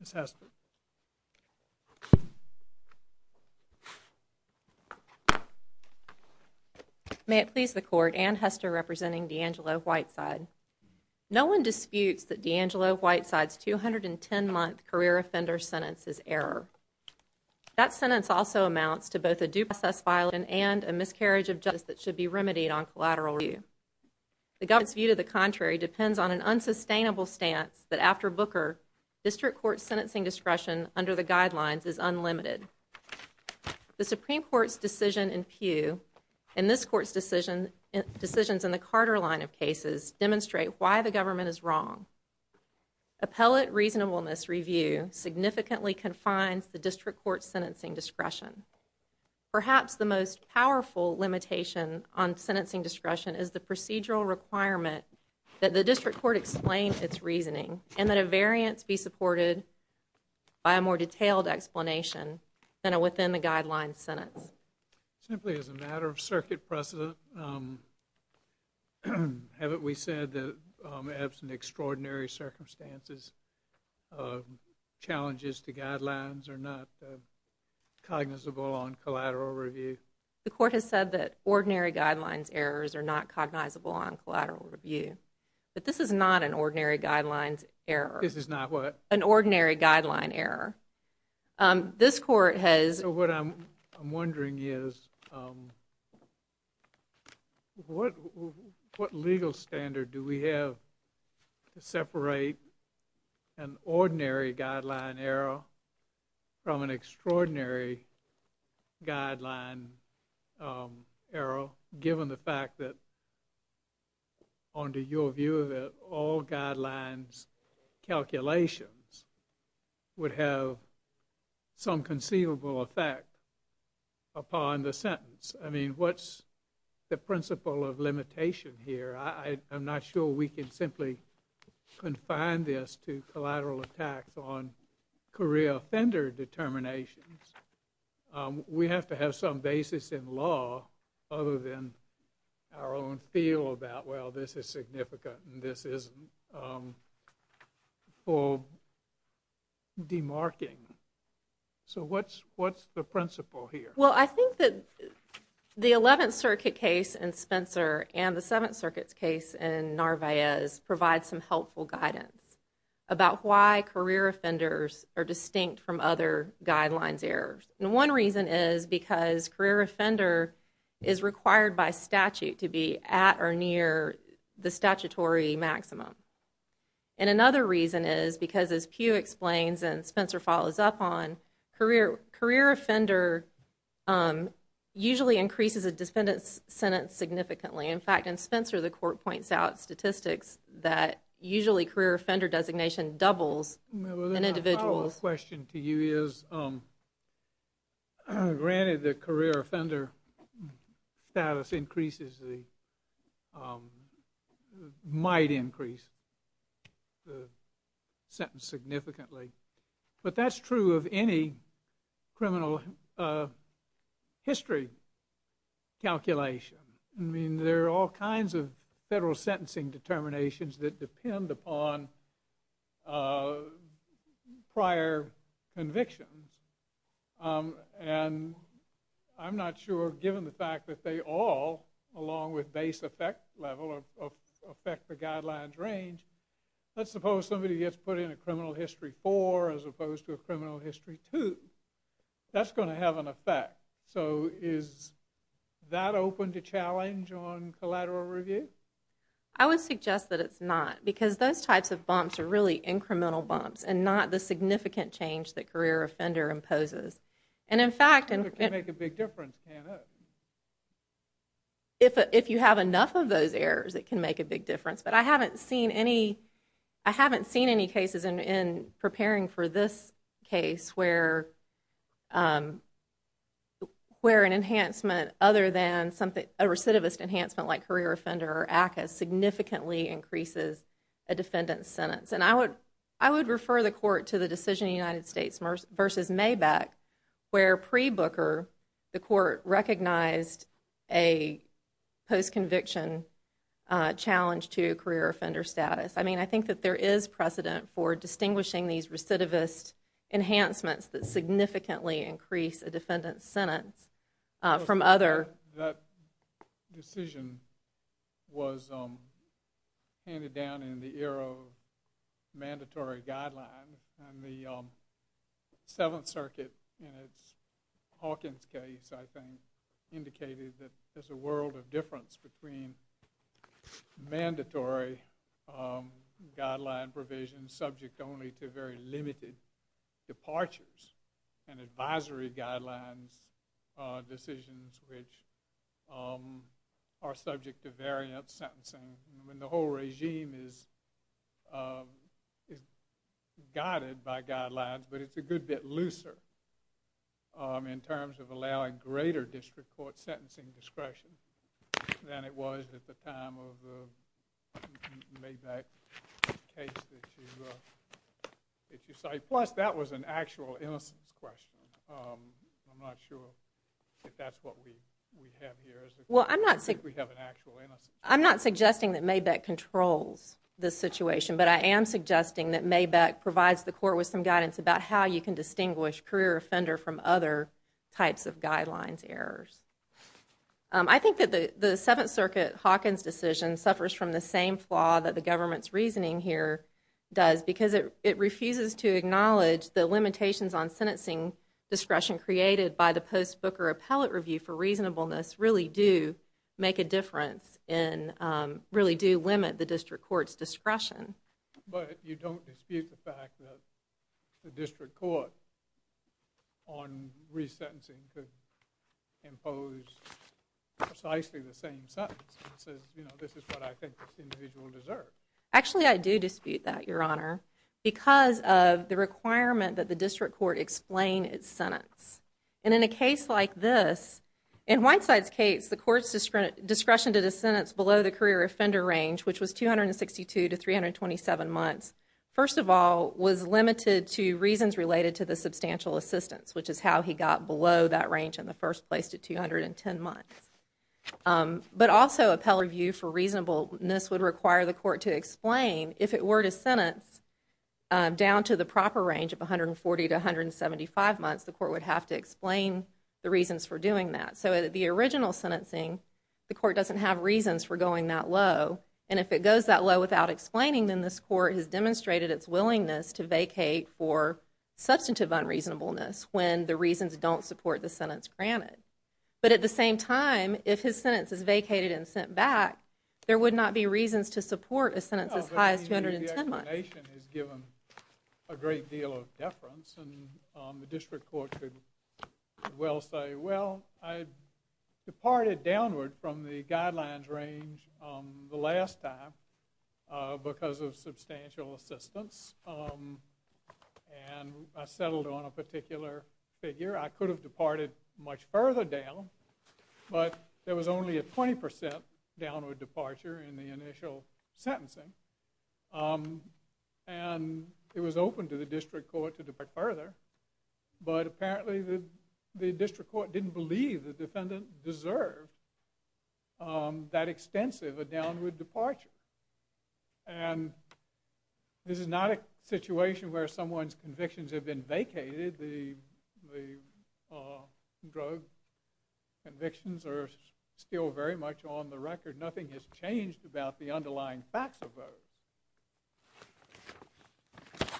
Ms. Hester. May it please the court, Anne Hester representing DeAngelo Whiteside. No one disputes that DeAngelo Whiteside's 210-month career offender sentence is error. That sentence also amounts to both a due process violation and a miscarriage of justice that should be remedied on collateral review. The government's view to the contrary depends on an unsustainable stance that after court sentencing discretion under the guidelines is unlimited. The Supreme Court's decision in Peugh and this court's decision decisions in the Carter line of cases demonstrate why the government is wrong. Appellate reasonableness review significantly confines the district court sentencing discretion. Perhaps the most powerful limitation on sentencing discretion is the procedural requirement that the district court explain its reasoning and that a variance be supported by a more detailed explanation than within the guidelines sentence. Simply as a matter of circuit precedent, haven't we said that absent extraordinary circumstances, challenges to guidelines are not cognizable on collateral review? The court has said that ordinary guidelines errors are not cognizable on collateral review, but this is not an ordinary guidelines error. This is not what? An ordinary guideline error. This court has. What I'm wondering is what what legal standard do we have to separate an ordinary guideline error from an extraordinary guideline error given the calculations would have some conceivable effect upon the sentence? I mean what's the principle of limitation here? I'm not sure we can simply confine this to collateral attacks on career offender determinations. We have to have some basis in law other than our own feel about well this is significant and this for demarking. So what's what's the principle here? Well I think that the Eleventh Circuit case in Spencer and the Seventh Circuit's case in Narvaez provide some helpful guidance about why career offenders are distinct from other guidelines errors. And one reason is because career offender is required by And another reason is because as Pew explains and Spencer follows up on, career career offender usually increases a defendant's sentence significantly. In fact in Spencer the court points out statistics that usually career offender designation doubles in individuals. A follow up question to you is granted the career offender status increases the might increase the sentence significantly. But that's true of any criminal history calculation. I mean there are all kinds of federal sentencing determinations that depend upon prior convictions. And I'm not sure given the fact that they all along with base effect level of affect the guidelines range. Let's suppose somebody gets put in a criminal history four as opposed to a criminal history two. That's going to have an effect. So is that open to challenge on collateral review? I would suggest that it's not because those types of bumps are really incremental bumps and not the big difference. If you have enough of those errors it can make a big difference. But I haven't seen any I haven't seen any cases in preparing for this case where where an enhancement other than something a recidivist enhancement like career offender or ACCA significantly increases a defendant's sentence. And I would I would refer the court to the decision United States versus Maybach where pre Booker the court recognized a post conviction challenge to career offender status. I mean I think that there is precedent for distinguishing these recidivist enhancements that significantly increase a defendant's sentence from other. That decision was handed down in the era of mandatory guideline and the Seventh Circuit in its Hawkins case I think indicated that there's a world of difference between mandatory guideline provisions subject only to very limited departures and advisory guidelines decisions which are subject to variant sentencing. I mean the whole regime is guided by guidelines but it's a good bit looser in terms of allowing greater district court sentencing discretion than it was at the time of the Maybach case that you cite. I'm not suggesting that Maybach controls this situation but I am suggesting that Maybach provides the court with some guidance about how you can distinguish career offender from other types of guidelines errors. I think that the the Seventh Circuit Hawkins decision suffers from the same flaw that the government's acknowledges the limitations on sentencing discretion created by the post Booker Appellate Review for reasonableness really do make a difference and really do limit the district court's discretion but you don't dispute the fact that the district court on resentencing could impose precisely the same sentence. It says you know this is what I think this individual deserves. Actually I do dispute that your honor because of the requirement that the district court explain its sentence and in a case like this in Whiteside's case the courts discretion to the sentence below the career offender range which was 262 to 327 months first of all was limited to reasons related to the substantial assistance which is how he got below that range in the first place to 210 months but also Appellate Review for reasonableness would require the district court to explain if it were to sentence down to the proper range of 140 to 175 months the court would have to explain the reasons for doing that so the original sentencing the court doesn't have reasons for going that low and if it goes that low without explaining then this court has demonstrated its willingness to vacate for substantive unreasonableness when the reasons don't support the sentence granted but at the same time if his sentence is vacated and it's as high as 210 months. The explanation is given a great deal of deference and the district court should well say well I departed downward from the guidelines range the last time because of substantial assistance and I settled on a particular figure I could have departed much further down but there was only a 20% downward departure in the initial sentencing and it was open to the district court to depart further but apparently the district court didn't believe the defendant deserved that extensive a downward departure and this is not a situation where someone's convictions have been vacated the drug convictions are still very much on the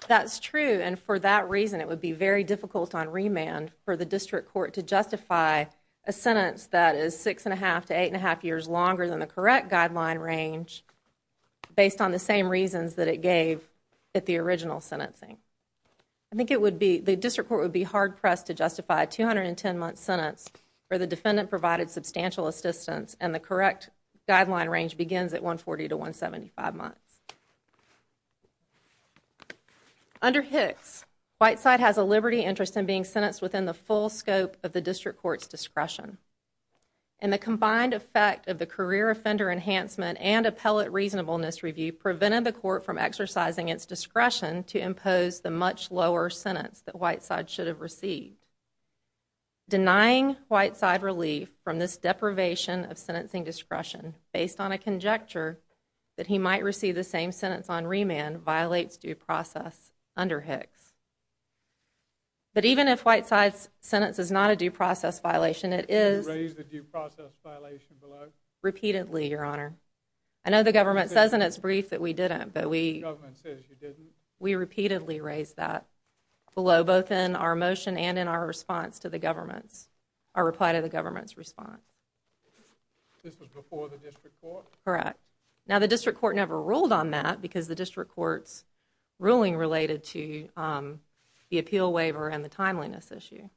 That's true and for that reason it would be very difficult on remand for the district court to justify a sentence that is six and a half to eight and a half years longer than the correct guideline range based on the same reasons that it gave at the original sentencing. I think it would be the district court would be hard-pressed to justify a 210 month sentence for the defendant provided substantial assistance and the correct guideline begins at 140 to 175 months. Under Hicks, Whiteside has a liberty interest in being sentenced within the full scope of the district court's discretion and the combined effect of the career offender enhancement and appellate reasonableness review prevented the court from exercising its discretion to impose the much lower sentence that Whiteside should have received. Denying Whiteside relief from this deprivation of sentencing discretion based on a conjecture that he might receive the same sentence on remand violates due process under Hicks but even if Whiteside's sentence is not a due process violation it is repeatedly your honor I know the government says in its brief that we didn't but we we repeatedly raised that below both in our motion and in our response to the government's our reply to the government's response correct now the district court never ruled on that because the district courts ruling related to the appeal waiver and the timeliness issue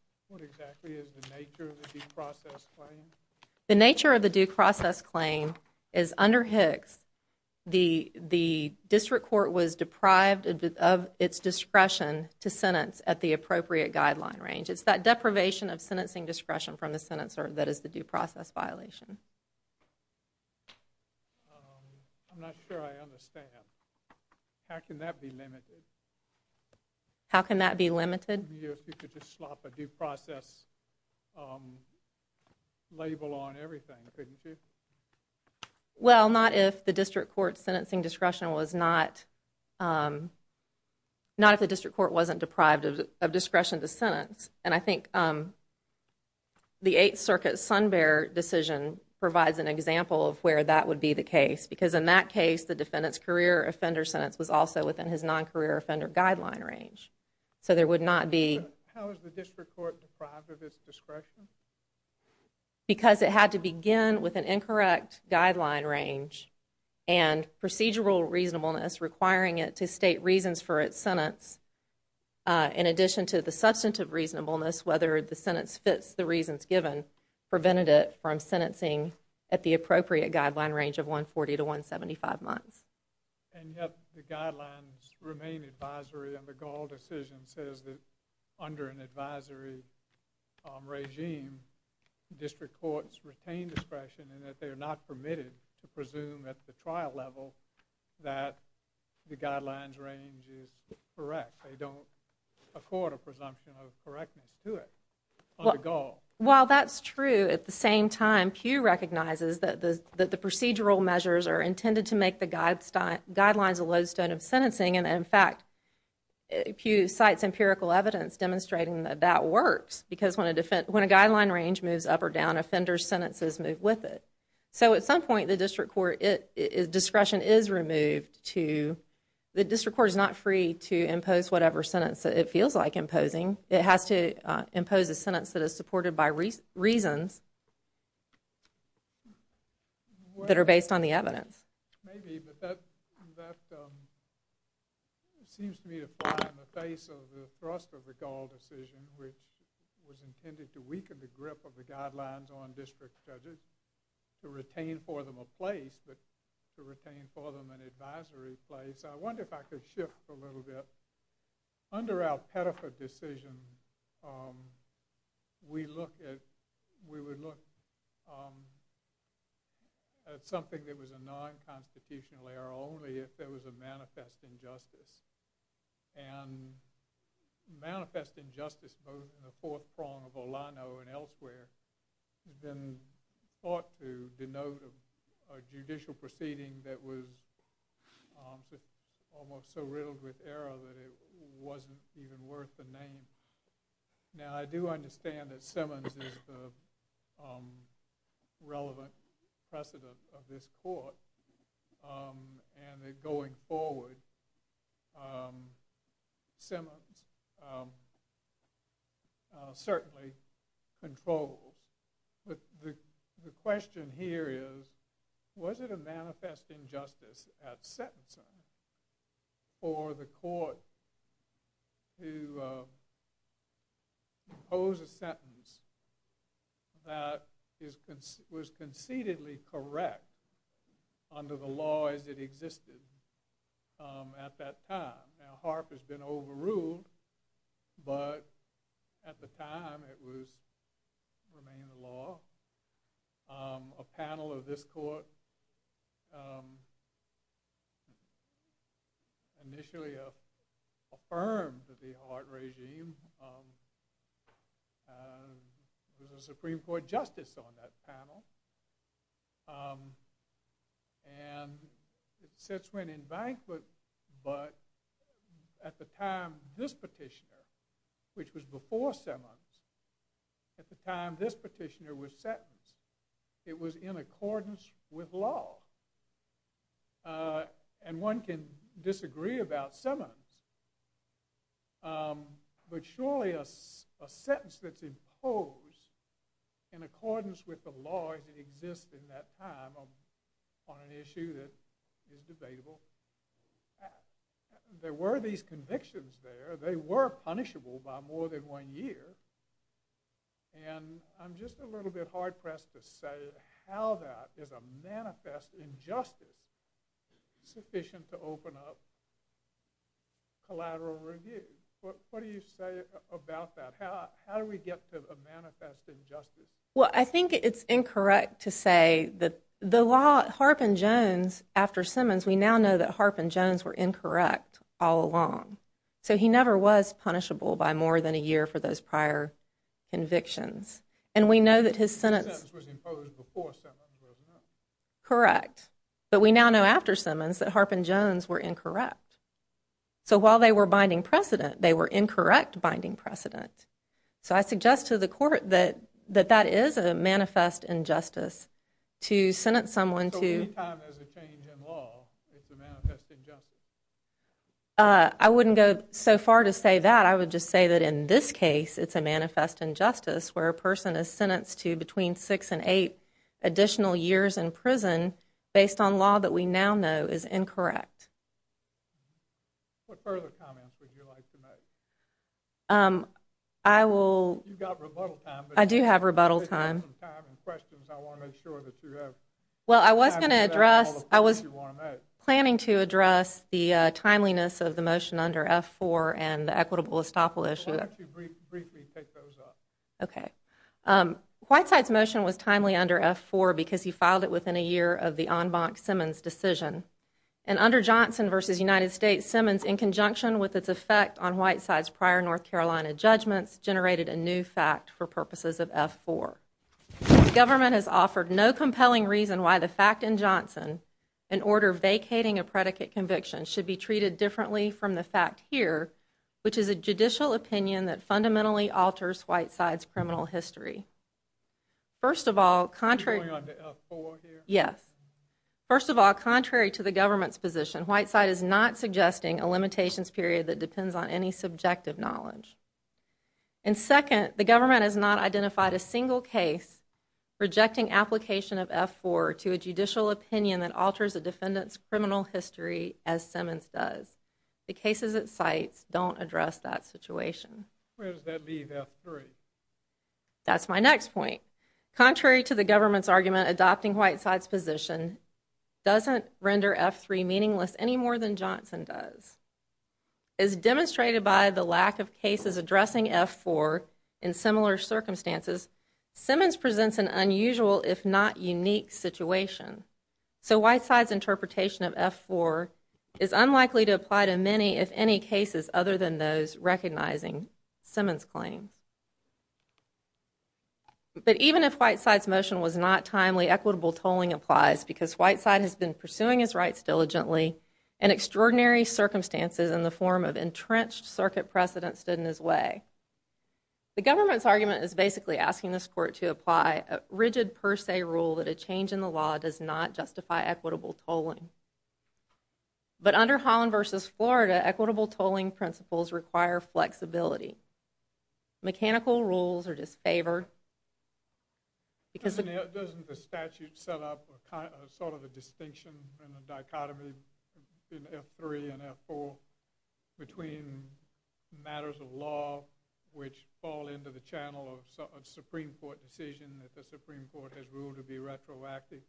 the nature of the due process claim is under Hicks the the district court was deprived of its discretion to sentence at the appropriate guideline range it's that deprivation of sentencing discretion from the sentence or that is the due process violation how can that be limited you could just swap a due process label on everything well not if the district court's sentencing discretion was not not if the district court wasn't deprived of discretion to sentence and I think the Eighth Circuit Sun Bear decision provides an example of where that would be the case because in that case the defendant's career offender sentence was also within his non-career offender guideline range so there would not be because it had to begin with an incorrect guideline range and procedural reasonableness requiring it to state reasons for its sentence in addition to the substantive reasonableness whether the sentence fits the reasons given prevented it from sentencing at the appropriate guideline range of 140 to 175 months and yet the guidelines remain advisory and the gall decision says that under an advisory regime district courts retain discretion and that they are not permitted to correct they don't accord a presumption of correctness to it well while that's true at the same time Pew recognizes that the that the procedural measures are intended to make the guide style guidelines a lodestone of sentencing and in fact Pew cites empirical evidence demonstrating that that works because when a defense when a guideline range moves up or down offenders sentences move with it so at some point the district court it is discretion is the district court is not free to impose whatever sentence that it feels like imposing it has to impose a sentence that is supported by reasons that are based on the evidence seems to be the face of the thrust of the gall decision which was intended to weaken the grip of the guidelines on district judges to retain for them a place but to retain for them an advisory place I wonder if I could shift a little bit under our pedophile decision we look at we would look at something that was a non-constitutional error only if there was a manifest injustice and manifest injustice both in the fourth prong of Olano and elsewhere then ought to denote a judicial proceeding that was almost so riddled with error that it wasn't even worth the name now I do understand that Simmons is the relevant precedent of this court and they're going forward Simmons certainly controlled but the question here is was it a manifest injustice at sentencing for the court to impose a sentence that is was concededly correct under the law as it existed at that time now Harp has been overruled but at the time it was remaining the law a panel of this court initially affirmed the Hart regime the Supreme Court justice on that panel and since went in bank but but at the time this petitioner which was before Simmons at the time this petitioner was sentenced it was in accordance with law and one can disagree about Simmons but surely a sentence that's imposed in accordance with the law as it exists in that time on an issue that is debatable there were these convictions there they were punishable by more than one year and I'm just a little bit hard-pressed to say how that is a manifest injustice sufficient to open up collateral review what do you say about that how do we get to the manifest injustice well I think it's incorrect to say that the law Harp and Jones after Simmons we now know that Harp and Jones were incorrect all along so he never was punishable by more than a year for those prior convictions and we know that his sentence correct but we now know after Simmons that Harp and Jones were incorrect so while they were binding precedent they were incorrect binding precedent so I suggest to the court that that that is a manifest injustice to sentence someone to I wouldn't go so far to say that I would just say that in this case it's a manifest injustice where a person is sentenced to between six and eight additional years in prison based on law that we now know is incorrect I will I do have rebuttal time well I was gonna address I was planning to address the timeliness of the motion under f4 and equitable estoppel issue okay white sites motion was timely under f4 because he filed it within a year of the en banc Simmons decision and under Johnson versus United States Simmons in conjunction with its effect on white sides prior North Carolina judgments generated a new fact for purposes of f4 government has offered no compelling reason why the fact in Johnson an order vacating a predicate conviction should be treated differently from the fact here which is a judicial opinion that fundamentally alters white sides criminal history first of all contrary yes first of all contrary to the government's position white side is not suggesting a limitations period that depends on any subjective knowledge and second the government has not identified a single case rejecting application of f4 to a judicial opinion that alters a defendant's criminal history as Simmons does the cases at sites don't address that situation that's my next point contrary to the government's argument adopting white sides position doesn't render f3 meaningless any more than Johnson does is demonstrated by the lack of cases addressing f4 in similar circumstances Simmons presents an unusual if not unique situation so white sides interpretation of f4 is unlikely to apply to many if any cases other than those recognizing Simmons claims but even if white sides motion was not timely equitable tolling applies because white side has been pursuing his rights diligently and extraordinary circumstances in the form of entrenched circuit precedent stood in his way the government's argument is basically asking this court to apply a rigid per se rule that a change in the law does not justify equitable tolling but under Holland versus Florida equitable tolling principles require flexibility mechanical rules are disfavored because the statute set up a kind of sort of a distinction and a dichotomy in f3 and f4 between matters of law which fall into the channel of Supreme Court decision that the Supreme Court has ruled to be retroactive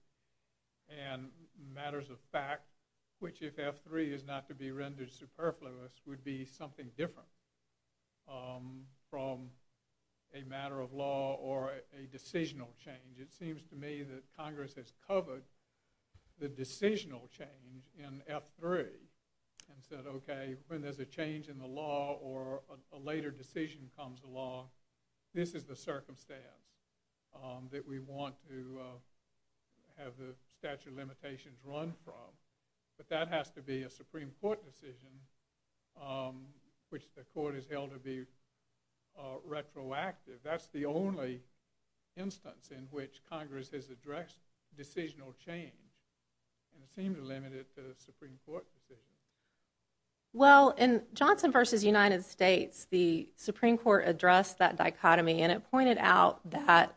and matters of fact which if f3 is not to be rendered superfluous would be something different from a matter of law or a decisional change it seems to me that Congress has covered the decisional change in f3 and said okay when there's a change in the law or a later decision comes along this is the circumstance that we want to have the statute of limitations run from but that has to be a Supreme Court decision which the court is held to be retroactive that's the only instance in which Congress has addressed decisional change and it seemed to limit it to the Supreme Court decision. Well in Johnson versus United States the Supreme Court addressed that dichotomy and it pointed out that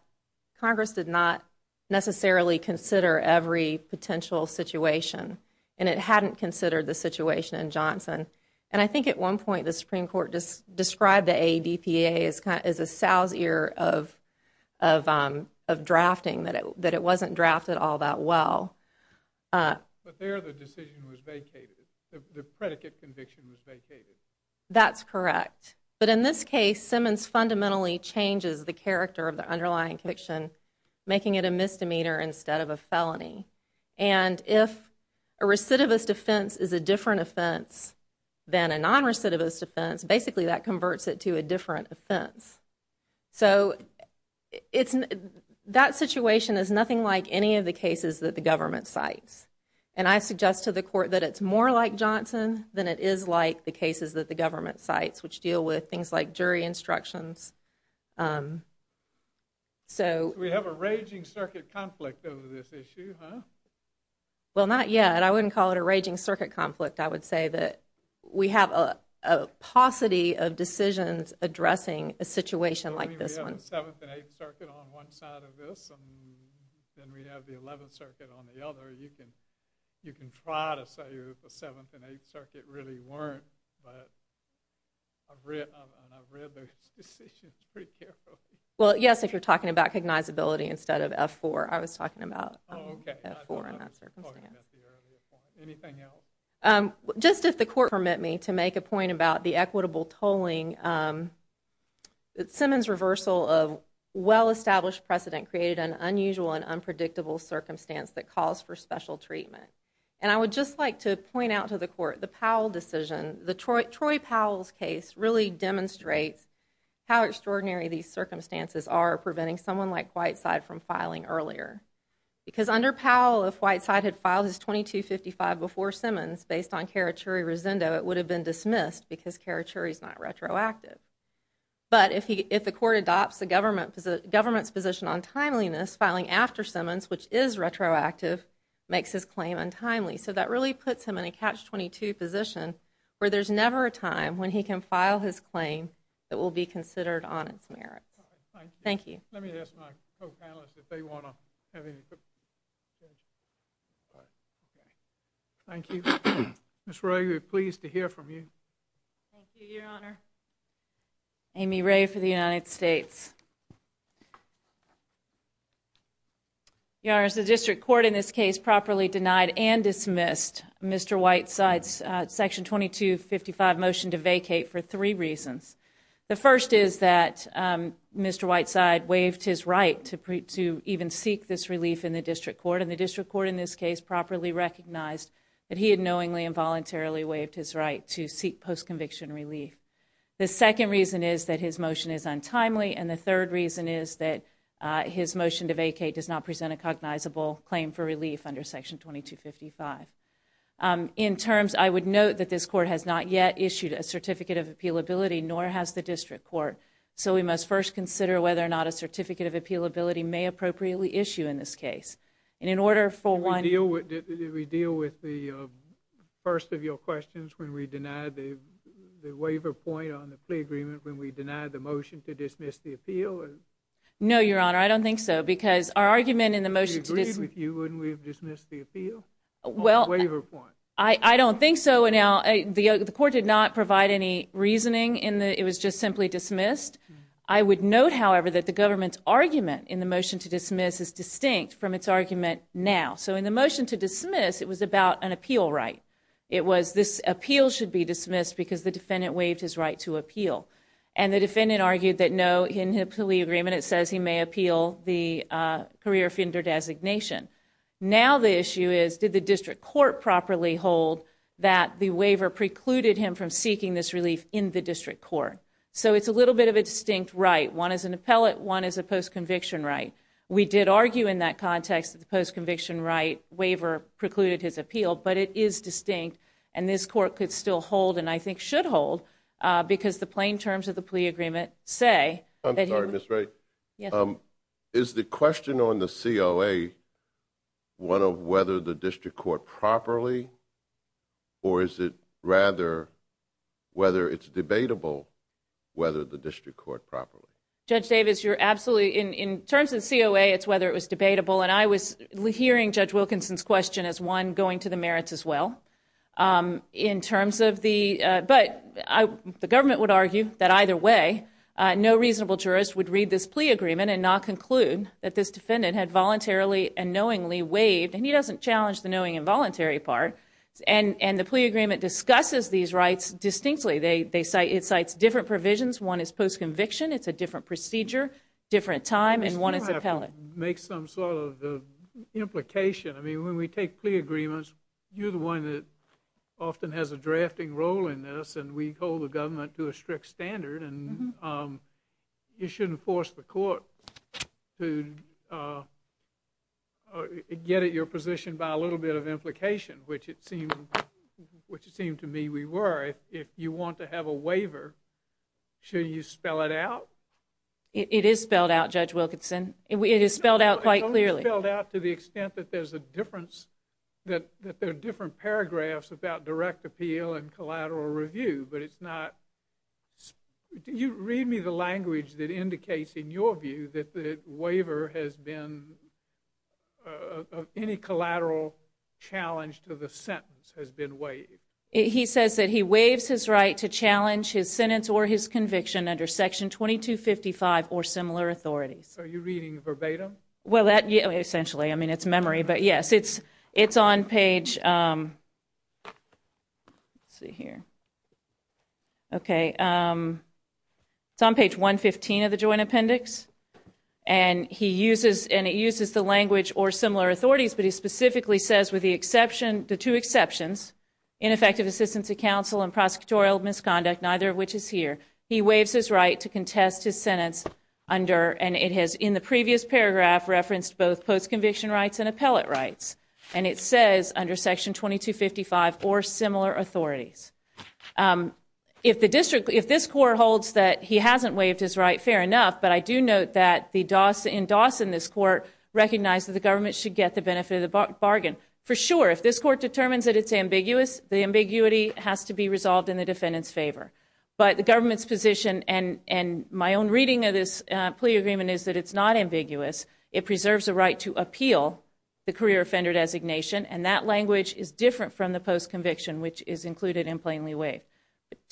Congress did not necessarily consider every potential situation and it hadn't considered the situation in Johnson and I think at one point the Supreme Court just described the ADPA as kind of as a sow's ear of of drafting that it that it wasn't drafted all that well. That's correct but in this case Simmons fundamentally changes the of a felony and if a recidivist offense is a different offense than a non recidivist offense basically that converts it to a different offense so it's that situation is nothing like any of the cases that the government cites and I suggest to the court that it's more like Johnson than it is like the cases that the government cites which deal with things like jury instructions so we have a raging circuit conflict over this issue huh? Well not yet I wouldn't call it a raging circuit conflict I would say that we have a paucity of decisions addressing a situation like this one then we have the 11th Circuit on the other you can you can try to say the 7th and 8th Circuit really weren't well yes if you're talking about cognizability instead of f4 I was talking about just if the court permit me to make a point about the equitable tolling that Simmons reversal of well-established precedent created an unusual and unpredictable circumstance that calls for special treatment and I decision the Troy Powell's case really demonstrates how extraordinary these circumstances are preventing someone like Whiteside from filing earlier because under Powell if Whiteside had filed his 2255 before Simmons based on Karachuri Rizendo it would have been dismissed because Karachuri is not retroactive but if he if the court adopts the government government's position on timeliness filing after Simmons which is retroactive makes his 22 position where there's never a time when he can file his claim that will be considered on its merits thank you thank you that's right you're pleased to hear from you Amy Ray for the United States yours the district court in this case properly denied and dismissed mr. White sides section 2255 motion to vacate for three reasons the first is that mr. Whiteside waived his right to preach to even seek this relief in the district court in the district court in this case properly recognized that he had knowingly involuntarily waived his right to seek post-conviction relief the second reason is that his motion is untimely and the third reason is that his motion to vacate does not present a cognizable claim for relief under section 2255 in terms I would note that this court has not yet issued a certificate of appeal ability nor has the district court so we must first consider whether or not a certificate of appeal ability may appropriately issue in this case and in order for one deal with did we deal with the first of your questions when we denied the waiver point on the plea agreement when we deny the motion to dismiss the appeal no your honor I don't think so because our well I don't think so and now the court did not provide any reasoning in the it was just simply dismissed I would note however that the government's argument in the motion to dismiss is distinct from its argument now so in the motion to dismiss it was about an appeal right it was this appeal should be dismissed because the defendant waived his right to appeal and the defendant argued that no in the plea agreement it says he may appeal the career offender designation now the issue is did the district court properly hold that the waiver precluded him from seeking this relief in the district court so it's a little bit of a distinct right one is an appellate one is a post conviction right we did argue in that context that the post conviction right waiver precluded his appeal but it is distinct and this court could still hold and I think should hold because the plain terms of the plea agreement say I'm sorry miss right yeah is the question on the COA one of whether the district court properly or is it rather whether it's debatable whether the district court properly judge Davis you're absolutely in in terms of COA it's whether it was debatable and I was hearing judge Wilkinson's question as one going to the merits as well in terms of the but I the government would argue that either way no reasonable jurist would read this plea agreement and not conclude that this defendant had voluntarily and knowingly waived and he doesn't challenge the knowing involuntary part and and the plea agreement discusses these rights distinctly they they say it cites different provisions one is post conviction it's a different procedure different time and one is a pellet make some sort of the implication I mean when we take plea agreements you're the one that often has a drafting role in this and we hold the government to a strict standard and you shouldn't force the court to get at your position by a little bit of implication which it seemed which it seemed to me we were if you want to have a waiver should you spell it out it is spelled out judge Wilkinson it is spelled out quite clearly filled out to the extent that there's a difference that there are different paragraphs about direct appeal and collateral review but it's not do you read me the language that indicates in your view that the waiver has been any collateral challenge to the sentence has been waived he says that he waives his right to challenge his sentence or his conviction under section 2255 or similar authorities are you reading verbatim well that yeah essentially I mean it's memory but yes it's it's on page 115 of the Joint Appendix and he uses and it uses the language or similar authorities but he specifically says with the exception the two exceptions ineffective assistance to counsel and prosecutorial misconduct neither which is here he waives his right to contest his sentence under and it has in the previous paragraph referenced both post conviction rights and appellate rights and it says under section 2255 or similar authorities if the district if this court holds that he hasn't waived his right fair enough but I do note that the DOS in DOS in this court recognize that the government should get the benefit of the bargain for sure if this court determines that it's ambiguous the ambiguity has to be resolved in the defendant's favor but the government's position and and my own reading of this plea agreement is that it's not and that language is different from the post conviction which is included in plainly way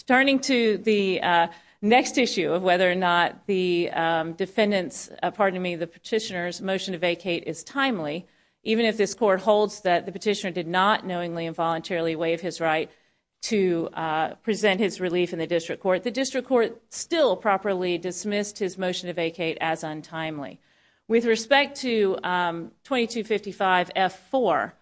turning to the next issue of whether or not the defendants pardon me the petitioners motion to vacate is timely even if this court holds that the petitioner did not knowingly involuntarily waive his right to present his relief in the district court the district court still properly dismissed his motion to vacate as untimely with respect to 2255 f4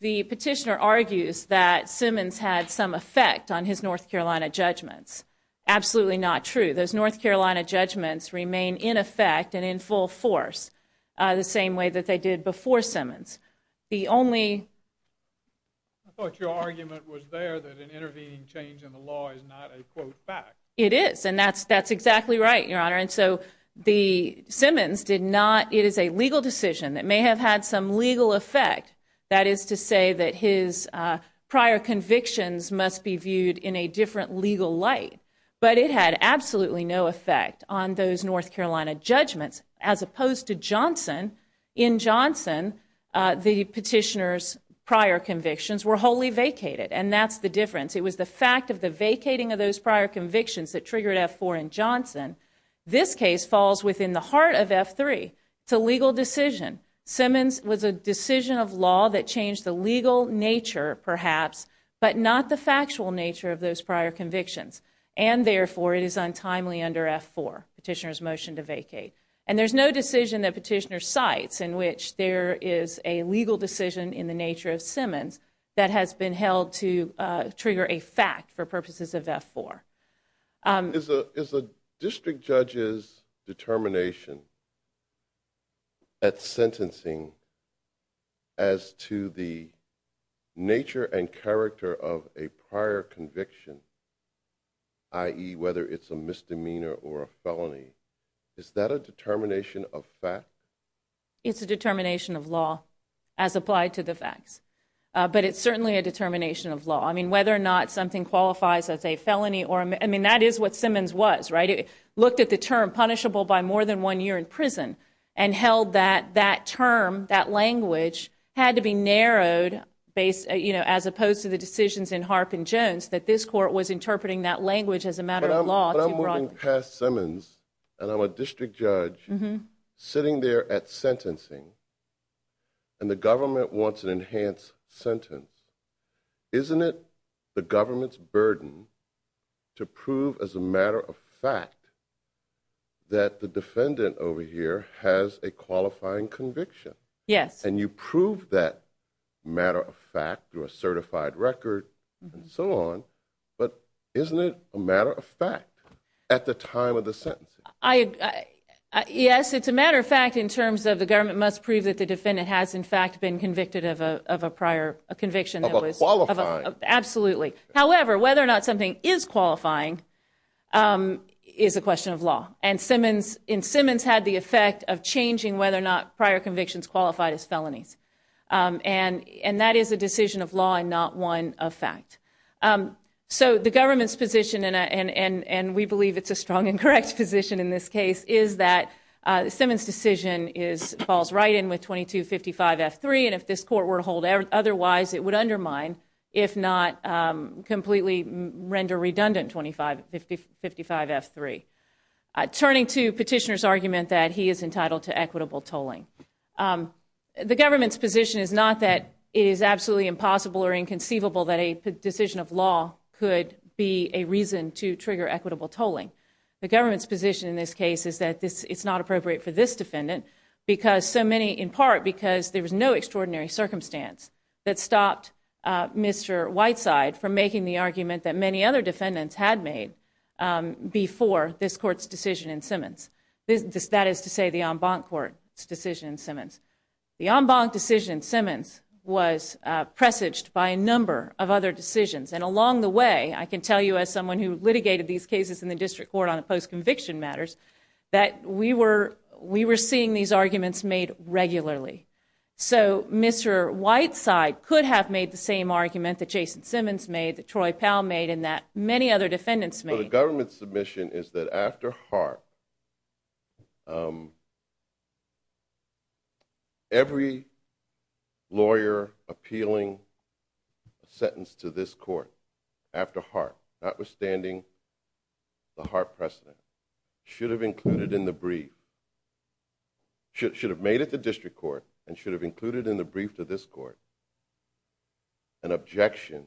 the petitioner argues that Simmons had some effect on his North Carolina judgments absolutely not true those North Carolina judgments remain in effect and in full force the same way that they did before Simmons the only it is and that's that's exactly right your honor and so the Simmons did not it is a legal decision that may have had some legal effect that is to say that his prior convictions must be viewed in a different legal light but it had absolutely no effect on those North Carolina judgments as opposed to Johnson in Johnson the petitioners prior convictions were wholly vacated and that's the difference it was the fact of the vacating of those prior convictions that triggered f4 and Johnson this case falls within the heart of f3 to legal decision Simmons was a decision of law that changed the legal nature perhaps but not the factual nature of those prior convictions and therefore it is untimely under f4 petitioners motion to vacate and there's no decision that petitioner sites in which there is a legal decision in the nature of Simmons that has been held to trigger a fact for purposes of f4 is a is a district judges determination at sentencing as to the nature and character of a prior conviction i.e. whether it's a misdemeanor or a felony is that a determination of fact it's a determination of law as applied to the facts but it's certainly a determination of law I mean whether or not something qualifies as a felony or I mean that is what Simmons was right it looked at the term punishable by more than one year in prison and held that that term that language had to be narrowed based you know as opposed to the decisions in Harp and Jones that this court was interpreting that language as a matter of law I'm moving past Simmons and I'm a district judge sitting there at sentencing and the government wants an enhanced sentence isn't it the government's burden to prove as a matter of fact that the defendant over here has a qualifying conviction yes and you prove that matter of fact through a certified record and so on but isn't it a matter of fact at the time of the sentence I yes it's a matter of fact in terms of the government must prove that the defendant has in fact been convicted of a of a prior conviction absolutely however whether or not something is qualifying is a question of law and Simmons in Simmons had the effect of changing whether or not prior convictions qualified as felonies and and that is a decision of law and not one of fact so the government's position and and and and we believe it's a strong and correct position in this case is that Simmons decision is falls right in with 2255 f3 and if this court were to hold out otherwise it would undermine if not completely render redundant 25 555 f3 turning to petitioners argument that he is entitled to equitable tolling the government's position is not that is absolutely impossible or inconceivable that a decision of law could be a reason to trigger equitable tolling the it's not appropriate for this defendant because so many in part because there was no extraordinary circumstance that stopped Mr. Whiteside from making the argument that many other defendants had made before this court's decision in Simmons this that is to say the en banc court decision Simmons the en banc decision Simmons was presaged by a number of other decisions and along the way I can tell you as someone who litigated these cases in the district court on a post-conviction matters that we were we were seeing these arguments made regularly so Mr. Whiteside could have made the same argument that Jason Simmons made that Troy Powell made in that many other defendants made a government submission is that after heart every lawyer appealing sentence to this court after heart notwithstanding the heart precedent should have included in the brief should have made it the district court and should have included in the brief to this court an objection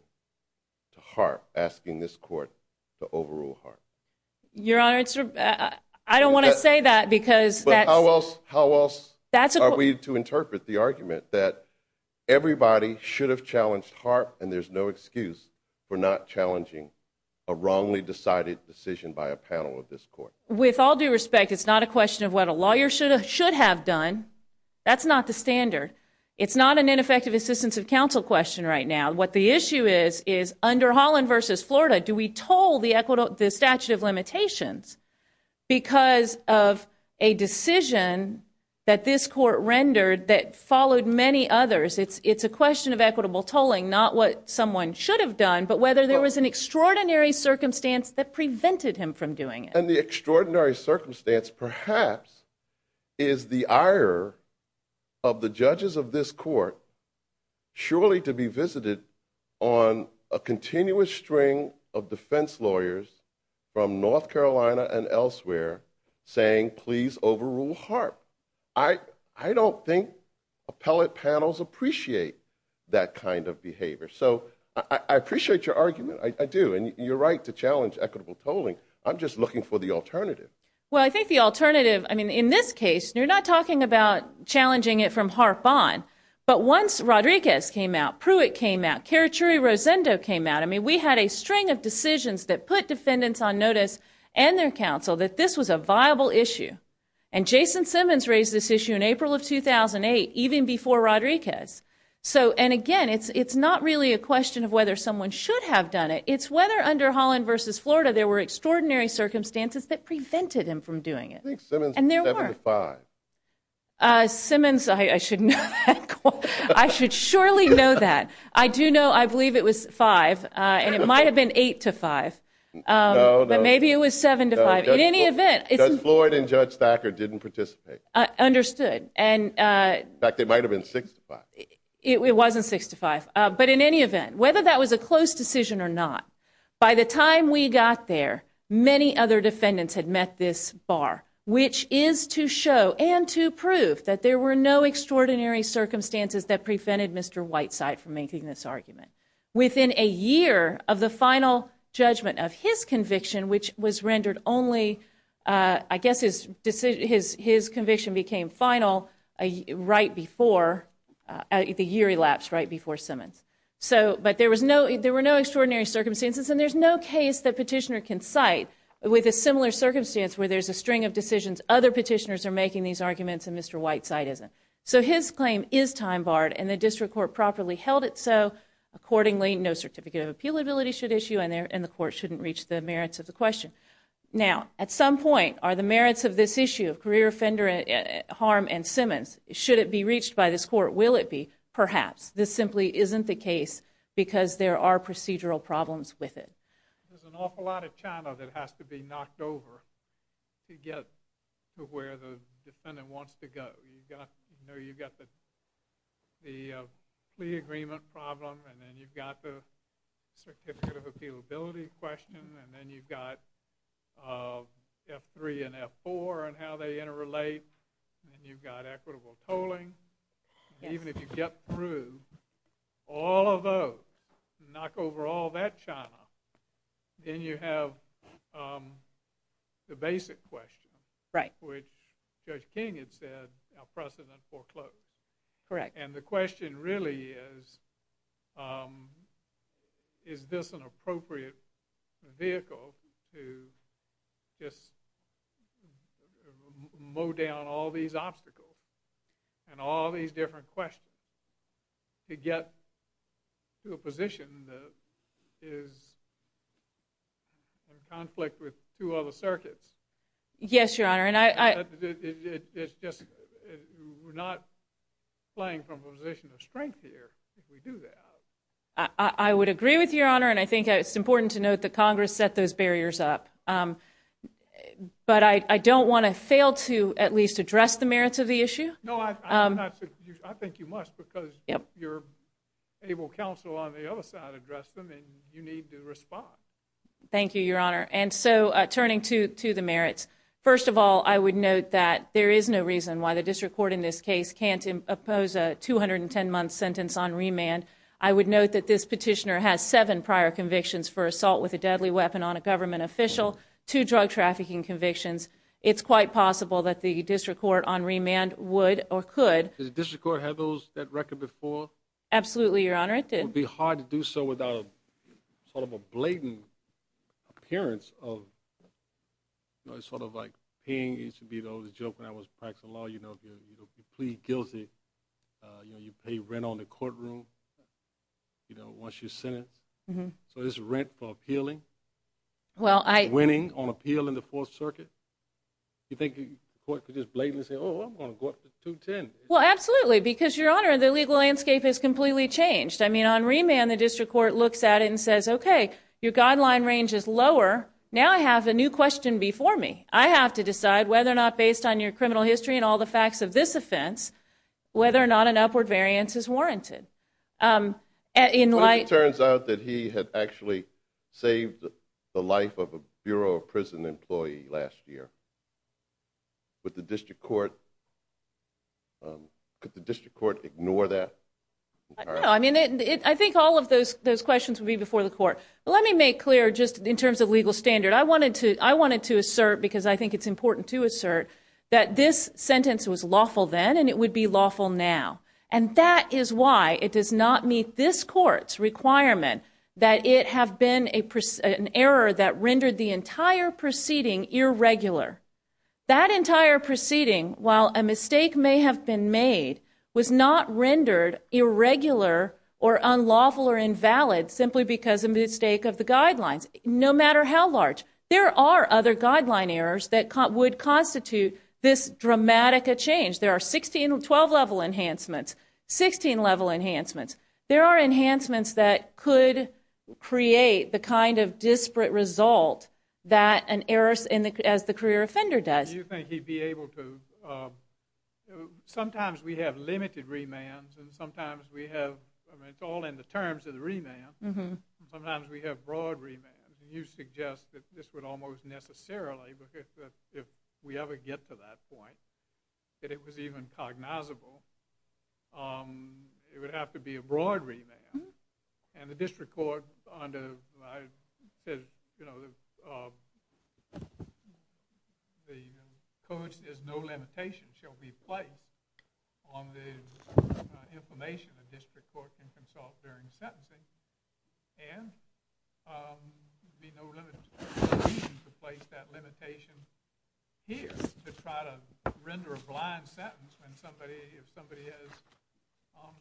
to heart asking this court to overrule heart your answer I don't want to say that because that's how else how else that's a way to interpret the argument that everybody should have challenged heart and there's no excuse for not challenging a wrongly decided decision by a panel of this court with all due respect it's not a question of what a lawyer should should have done that's not the standard it's not an ineffective assistance of counsel question right now what the issue is is under Holland vs Florida do we told the equitable the statute of limitations because of a decision that this court rendered that followed many others it's it's a question of equitable tolling not what someone should have done but whether there was an extraordinary circumstance that prevented him from doing and the extraordinary circumstance perhaps is the ire of the judges of this court surely to be visited on a continuous string of defense lawyers from North Carolina and elsewhere saying please overrule heart I I don't think appellate panels appreciate that kind of behavior so I appreciate your argument I do and you're right to challenge equitable tolling I'm just looking for the alternative well I think the alternative I mean in this case you're not talking about challenging it from harp on but once Rodriguez came out Pruitt came out territory Rosendo came out I mean we had a string of decisions that put defendants on notice and their counsel that this was a viable issue and Jason Rodriguez so and again it's it's not really a question of whether someone should have done it it's whether under Holland vs Florida there were extraordinary circumstances that prevented him from doing it and there were five Simmons I shouldn't I should surely know that I do know I believe it was five and it might have been eight to five but maybe it was seven to five in any event it's important judge Thacker didn't participate I understood and back it was a 65 but in any event whether that was a close decision or not by the time we got there many other defendants had met this bar which is to show and to prove that there were no extraordinary circumstances that prevented Mr. Whiteside from making this argument within a year of the final judgment of his conviction which was rendered only I guess his decision is his conviction became final a right before the year elapsed right before Simmons so but there was no there were no extraordinary circumstances and there's no case that petitioner can cite with a similar circumstance where there's a string of decisions other petitioners are making these arguments and Mr. Whiteside isn't so his claim is time-barred and the district court properly held it so accordingly no certificate of appeal ability should issue and there and the court shouldn't reach the merits of the question now at some point are the harm and Simmons should it be reached by this court will it be perhaps this simply isn't the case because there are procedural problems with it you've got equitable tolling even if you get through all of those knock over all that China then you have the basic question right which judge King had said precedent foreclosed correct and the question really is is this an appropriate vehicle to just mow down all these obstacles and all these different questions to get to a position that is in conflict with two other circuits yes your honor and I it's just not playing from a position of strength here I would agree with your honor and I think it's important to note that Congress set those barriers up but I don't want to fail to at least address the merits of the issue thank you your honor and so turning to to the merits first of all I would note that there is no reason why the district court in this case can't oppose a 210 month sentence on remand I would note that this petitioner has seven prior convictions for assault with a deadly weapon on a government official to drug trafficking convictions it's quite possible that the district court on remand would or could the district court have those that record before absolutely your honor it didn't be hard to do so without sort of a blatant appearance of sort of like paying each of you know the joke when I was practicing law you know you plead guilty you know you pay rent on the courtroom you know once you're sentenced mm-hmm so this rent for appealing well I winning on appeal in the Fourth Circuit you think you could just blatantly say oh I'm gonna go up to ten well absolutely because your honor the legal landscape has completely changed I mean on remand the district court looks at it and says okay your guideline range is lower now I have a new question before me I have to decide whether or not based on your criminal history and all the facts of this offense whether or not an upward variance is warranted in light turns out that he had actually saved the life of a Bureau of Prison employee last year with the district court could the district court ignore that I mean it I think all of those those questions would be before the court let me make clear just in terms of legal standard I wanted to I wanted to assert because I think it's important to assert that this sentence was lawful then and it would be lawful now and that is why it does not meet this courts requirement that it have been a person error that rendered the entire proceeding irregular that entire proceeding while a mistake may have been made was not rendered irregular or unlawful or invalid simply because a mistake of the guidelines no matter how large there are other guideline errors that caught would constitute this dramatic a change there are 16 and 12 level enhancements 16 level enhancements there are enhancements that could create the kind of disparate result that an heiress in the as the career offender does you think he'd be able to sometimes we have limited remands and sometimes we have all in the terms of the remand mm-hmm sometimes we have broad remand you suggest that this would almost necessarily because if we ever get to that point that it was even cognizable it would have to be a broad remand and the district court under you know the codes is no limitation shall be played on the information of district court and consult during sentencing and the no limit to place that limitation here to try to render a blind sentence when somebody if somebody has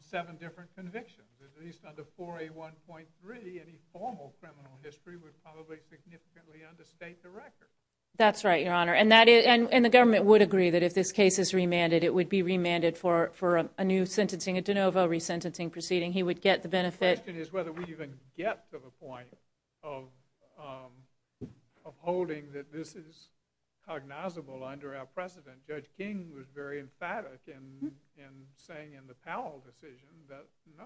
seven different convictions at least under 4a 1.3 any formal criminal history would probably significantly understate the record that's right your honor and that is and and the government would agree that if this case is remanded it would be remanded for for a new sentencing at de novo resentencing proceeding he would get the benefit is whether we even get to the point of holding that this is cognizable under our precedent judge King was very emphatic in saying in the Powell decision that no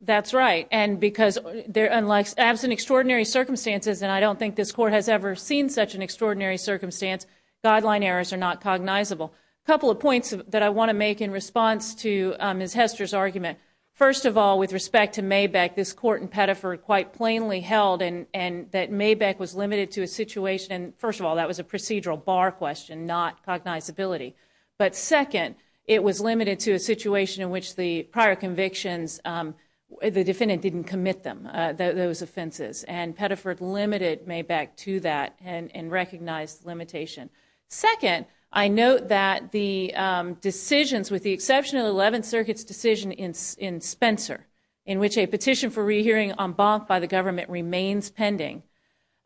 that's right and because they're unlike absent extraordinary circumstances and I don't think this court has ever seen such an extraordinary circumstance guideline errors are not cognizable couple of points that I want to make in response to his Hester's argument first of all with respect to may back this court in Pettiford quite plainly held and and that may back was limited to a situation first of all that was a procedural bar question not cognizability but second it was limited to a situation in which the prior convictions the defendant didn't admit them those offenses and Pettiford limited may back to that and and recognized limitation second I know that the decisions with the exception of 11 circuits decision in Spencer in which a petition for re-hearing on bond by the government remains pending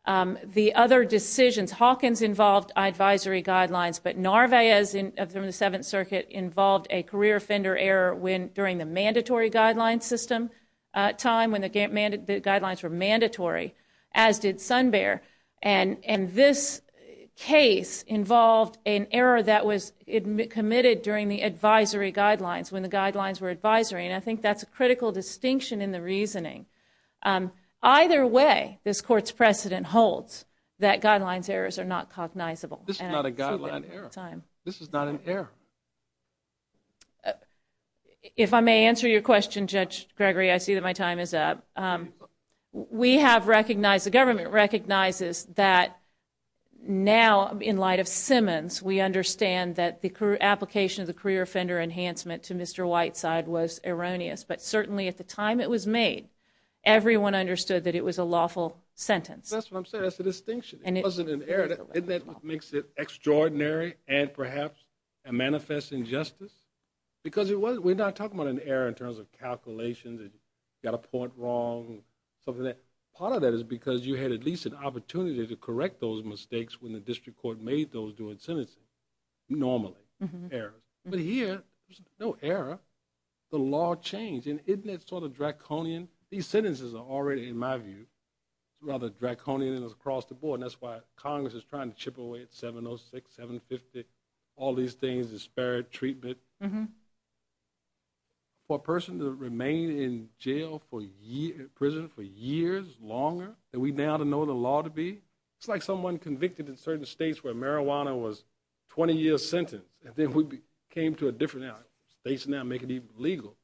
the other decisions Hawkins involved advisory guidelines but Narvaez in the seventh circuit involved a career offender error when during the mandatory guideline system time when the game and the guidelines were mandatory as did Sun Bear and and this case involved an error that was admitted during the advisory guidelines when the guidelines were advisory and I think that's a critical distinction in the reasoning either way this court's precedent holds that guidelines errors are not cognizable this is not a guideline time this is not an error if I may answer your question judge Gregory I see that my time is up we have recognized the government recognizes that now in light of Simmons we understand that the crew application of the career offender enhancement to mr. Whiteside was erroneous but certainly at the time it was made everyone understood that it was a lawful sentence that's what I'm saying that's the distinction and it wasn't an error that makes it extraordinary and perhaps a manifest injustice because it was we're not talking about an error in terms of calculations and got a point wrong something that part of that is because you had at least an opportunity to correct those mistakes when the district court made those doing sentences normally error but here no error the law change and it's sort of draconian these sentences are already in my view rather draconian and across the board that's why Congress is trying to chip away at 706 750 all these things disparate treatment mm-hmm for a person to remain in jail for year prison for years longer that we now to know the law to be it's like someone convicted in certain states where marijuana was 20 years sentence and it would be came to a different out they should not make it even legal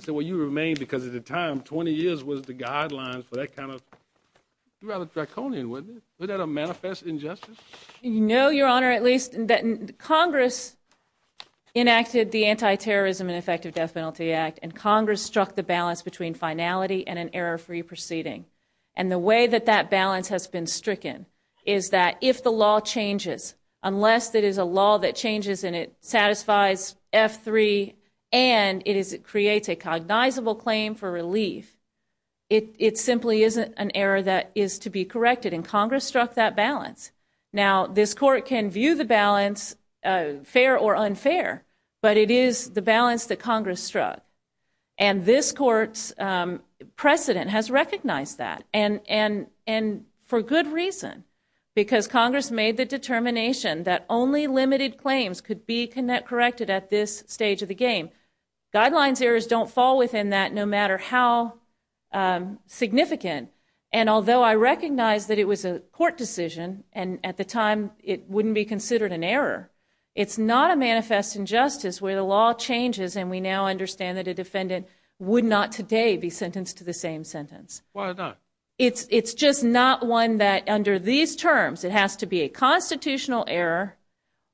so what you remain because at the time 20 years was the guidelines for that kind of rather draconian with it without a manifest injustice you know your honor at least that Congress enacted the anti-terrorism and effective death penalty act and Congress struck the balance between finality and an error free proceeding and the way that that balance has been stricken is that if the law that changes in it satisfies f3 and it is it creates a cognizable claim for relief it it simply isn't an error that is to be corrected in Congress struck that balance now this court can view the balance fair or unfair but it is the balance the Congress struck and this court's precedent has recognized that and and and for good reason because Congress made the determination that only limited claims could be connected corrected at this stage of the game guidelines errors don't fall within that no matter how significant and although I recognize that it was a court decision and at the time it wouldn't be considered an error it's not a manifest injustice where the law changes and we now understand that a defendant would not today be sentenced to the same sentence it's it's just not one that under these terms it has to be a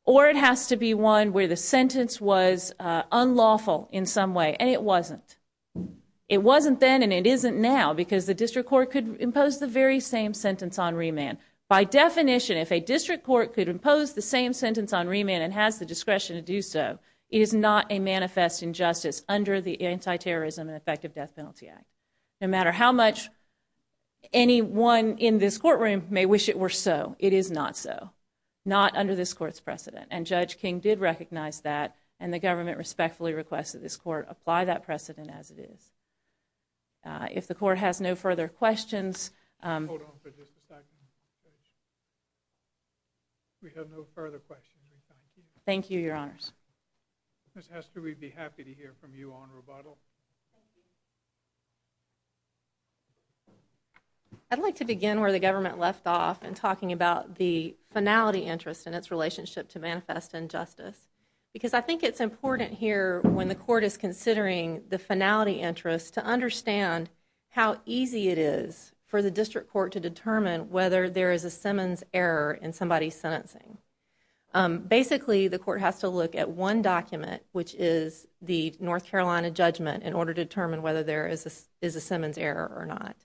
or it has to be one where the sentence was unlawful in some way and it wasn't it wasn't then and it isn't now because the district court could impose the very same sentence on remand by definition if a district court could impose the same sentence on remand and has the discretion to do so it is not a manifest injustice under the anti-terrorism and effective death penalty act no matter how much anyone in this courtroom may wish it were so it is not so not under this court's precedent and judge King did recognize that and the government respectfully requests that this court apply that precedent as it is if the court has no further questions we have no further questions thank you your honors mr. we'd be happy to hear from you on rebuttal I'd like to begin where the government left off and relationship to manifest injustice because I think it's important here when the court is considering the finality interest to understand how easy it is for the district court to determine whether there is a Simmons error in somebody's sentencing basically the court has to look at one document which is the North Carolina judgment in order to determine whether there is this is a Simmons error or not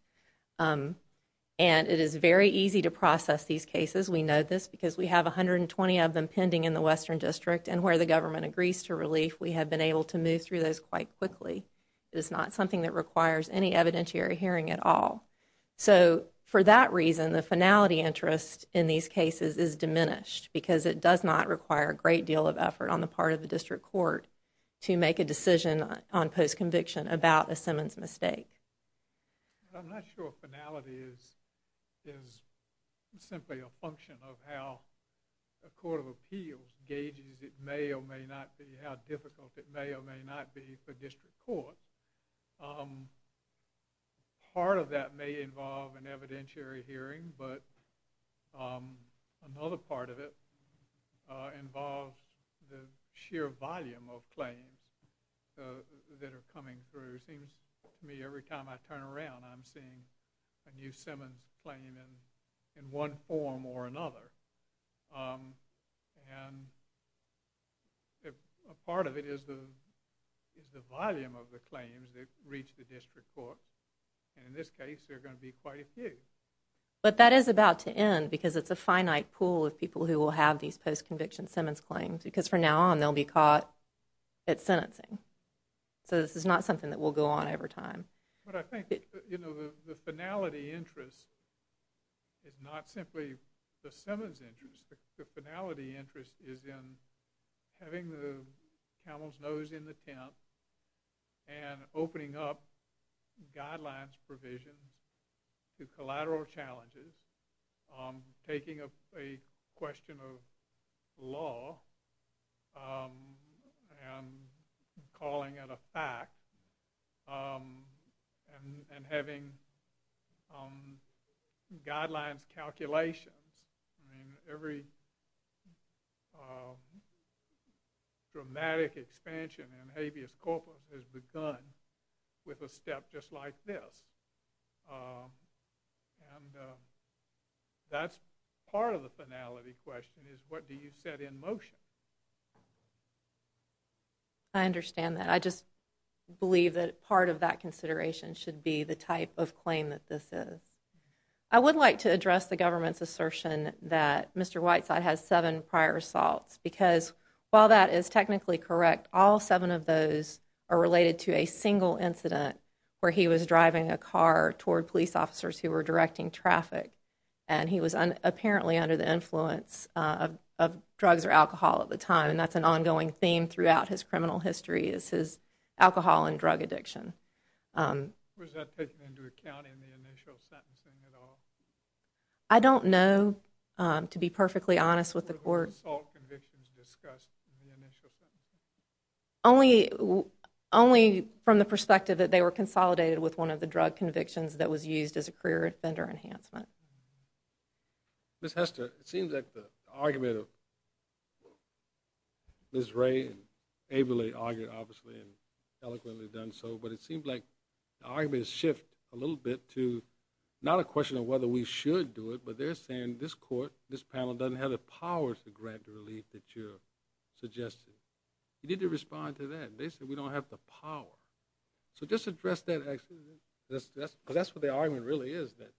and it is very easy to process these cases we know this because we have a hundred and twenty of them pending in the Western District and where the government agrees to relief we have been able to move through those quite quickly it's not something that requires any evidentiary hearing at all so for that reason the finality interest in these cases is diminished because it does not require a great deal of effort on the part of the district court to make a decision on post conviction about a Simmons mistake a court of appeals gauges it may or may not be how difficult it may or may not be for district court part of that may involve an evidentiary hearing but another part of it involves the sheer volume of claims that are coming through seems to me every time I turn around I'm seeing a new Simmons claim in in one form or another and a part of it is the is the volume of the claims that reach the district court and in this case they're going to be quite a few but that is about to end because it's a finite pool of people who will have these post-conviction Simmons claims because for now on they'll be caught at sentencing so this is not something that will go on over time but I think you it's not simply the Simmons interest the finality interest is in having the camel's nose in the tent and opening up guidelines provision to collateral challenges taking a question of law and calling it a fact and having guidelines calculations I mean every dramatic expansion in habeas corpus has begun with a step just like this that's part of the finality question is what do you set in motion I understand that I just believe that part of that consideration should be the type of claim that this is I would like to address the government's assertion that mr. Whiteside has seven prior assaults because while that is technically correct all seven of those are related to a single incident where he was driving a car toward police officers who were directing traffic and he was apparently under the influence of drugs or alcohol at the time and that's an ongoing theme throughout his criminal history is his alcohol and drug addiction I don't know to be perfectly honest with the court only only from the perspective that they were consolidated with one of the drug convictions that was used as a career offender enhancement this has to seem that the argument of this ray and ably argued obviously and eloquently done so but it seems like the argument is shift a little bit to not a question of whether we should do it but they're saying this court this panel doesn't have the powers to grant relief that you suggested you need to respond to that they said we don't have the power so just address that actually that's that's that's what the argument really is that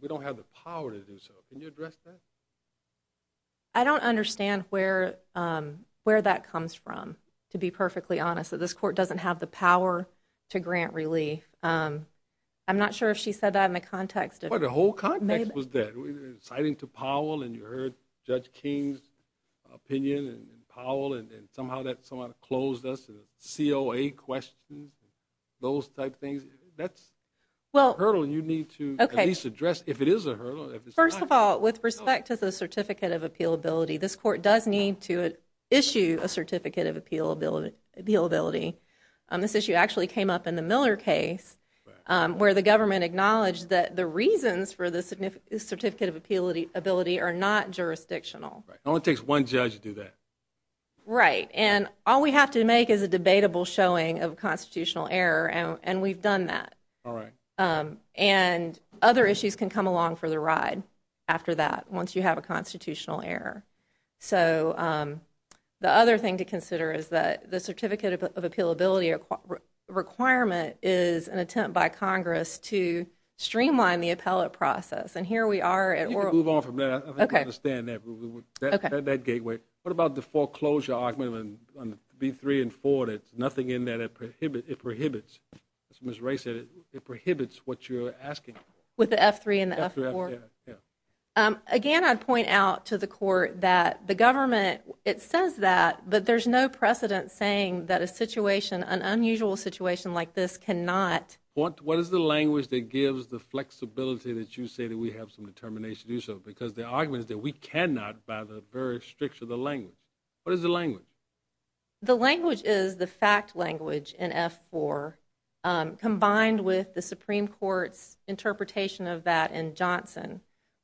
we don't have the power to do so can you address that I don't understand where where that comes from to be perfectly honest that this court doesn't have the power to grant relief I'm not sure if she said that in the context of the whole context was that citing to Powell and you heard judge King's opinion and Powell and somehow that someone closed us COA questions those type things that's well hurdle you need to at least address if it is a hurdle first of all with respect to the Certificate of Appeal ability this court does need to issue a Certificate of Appeal ability this issue actually came up in the Miller case where the government acknowledged that the reasons for the significant Certificate of Ability are not jurisdictional it only takes one judge to do that right and all we have to make is a debatable showing of constitutional error and we've done that all right and other issues can come along for the ride after that once you have a constitutional error so the other thing to consider is that the Certificate of Appeal ability requirement is an attempt by Congress to understand that gateway what about the foreclosure argument and be three and four that's nothing in that it prohibits it prohibits miss race it it prohibits what you're asking with the f3 and again I'd point out to the court that the government it says that but there's no precedent saying that a situation an unusual situation like this cannot what what is the language that gives the because the argument is that we cannot by the very strict of the language what is the language the language is the fact language in f4 combined with the Supreme Court's interpretation of that in Johnson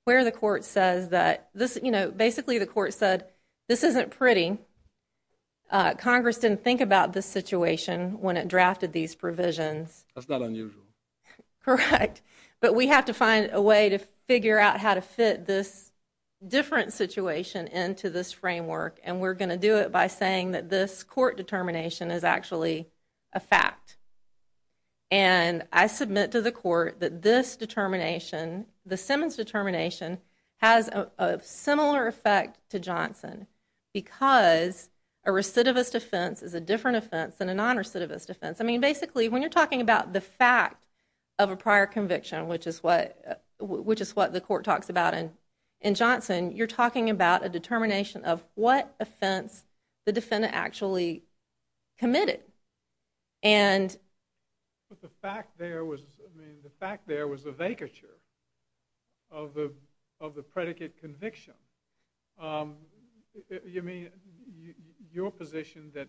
where the court says that this you know basically the court said this isn't pretty Congress didn't think about this situation when it drafted these provisions that's not unusual correct but we have to find a way to figure out how to fit this different situation into this framework and we're going to do it by saying that this court determination is actually a fact and I submit to the court that this determination the Simmons determination has a similar effect to Johnson because a recidivist offense is a different offense than a non recidivist offense I mean basically when you're talking about the fact of a prior conviction which is what which is what the court talks about and in Johnson you're talking about a determination of what offense the defendant actually committed and the fact there was I mean the fact there was a vacature of the of the predicate conviction you mean your position that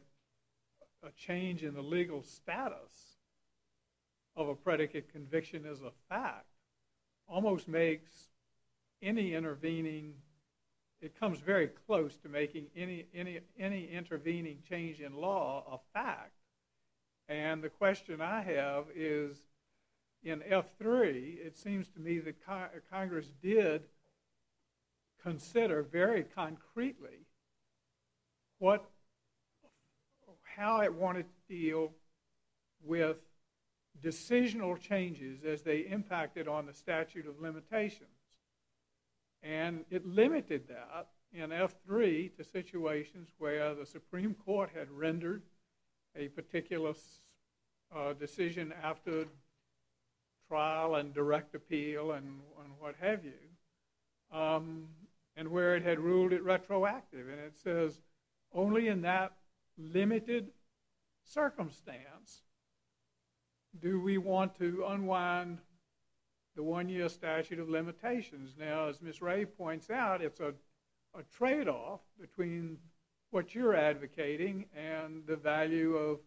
a change in the legal status of a predicate conviction is a fact almost makes any intervening it comes very close to making any intervening change in law a fact and the question I have is in F3 it seems to me that Congress did consider very concretely what how it wanted to deal with decisional changes as they impacted on the statute of limitations and it limited that in F3 the situations where the Supreme Court had rendered a particular decision after trial and direct appeal and what have you and where it had ruled it retroactive and it says only in that limited circumstance do we want to unwind the one-year statute of limitations now as Miss Ray points out it's a trade-off between what you're advocating and the value of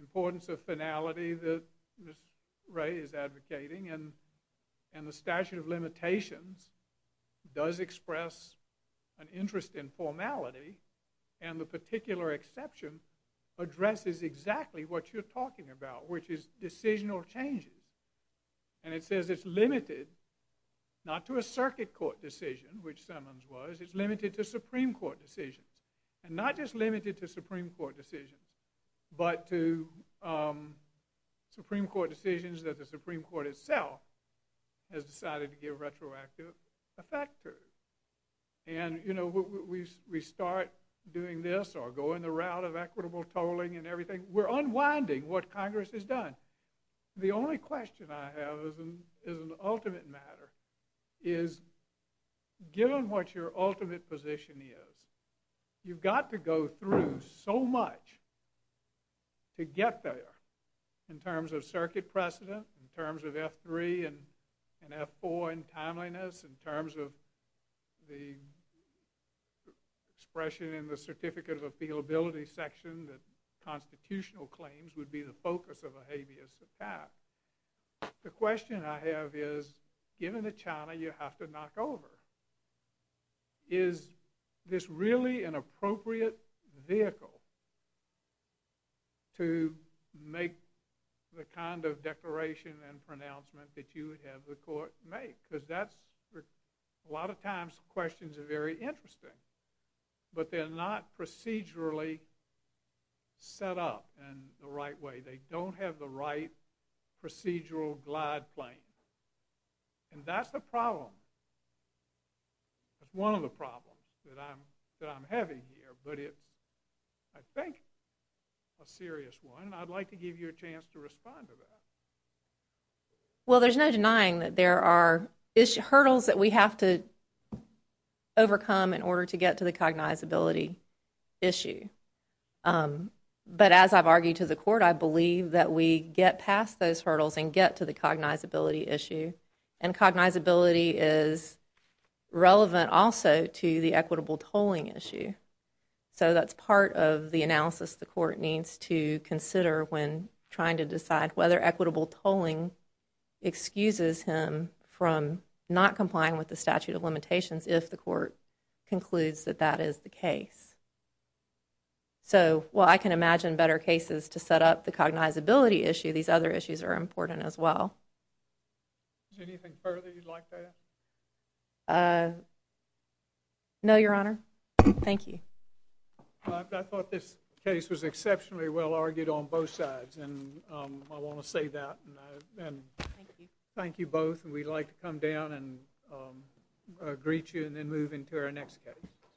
importance of finality that this Ray is advocating and and the statute of limitations does express an interest in formality and the particular exception addresses exactly what you're talking about which is decisional changes and it says it's limited not to a circuit court decision which Simmons was it's limited to Supreme Court decisions and not just limited to Supreme Court decisions but to Supreme Court decisions that the Supreme Court itself has decided to give retroactive effectors and you know we start doing this or going the route of equitable tolling and everything we're unwinding what Congress has done the only question I have is an ultimate matter is given what your ultimate position is you've got to go through so much to get there in terms of circuit precedent in terms of F3 and F4 and timeliness in terms of the expression in the certificate of appeal ability section that constitutional claims would be the focus of a habeas attack the question I have is given the China you have to knock over is this really an appropriate vehicle to make the kind of declaration and pronouncement that you would have the court make because that's a lot of times questions are very interesting but they're not procedurally set up and the right way they don't have the right procedural glide plane and that's the problem that's one of the problems that I'm that I'm having here but it's I think a serious one I'd like to give you a chance to respond to that well there's no denying that there are hurdles that we have to overcome in order to get to the cognizability issue but as I've argued to the court I believe that we get past those hurdles and get to the cognizability issue and cognizability is relevant also to the equitable tolling issue so that's part of the analysis the court needs to consider when trying to decide whether equitable tolling excuses him from not complying with the statute of limitations if the court concludes that that is the case so well I can imagine better cases to set up the cognizability issue these other issues are important as well no your honor thank you I thought this case was exceptionally well I want to say that and thank you both and we'd like to come down and greet you and then move into our next case that okay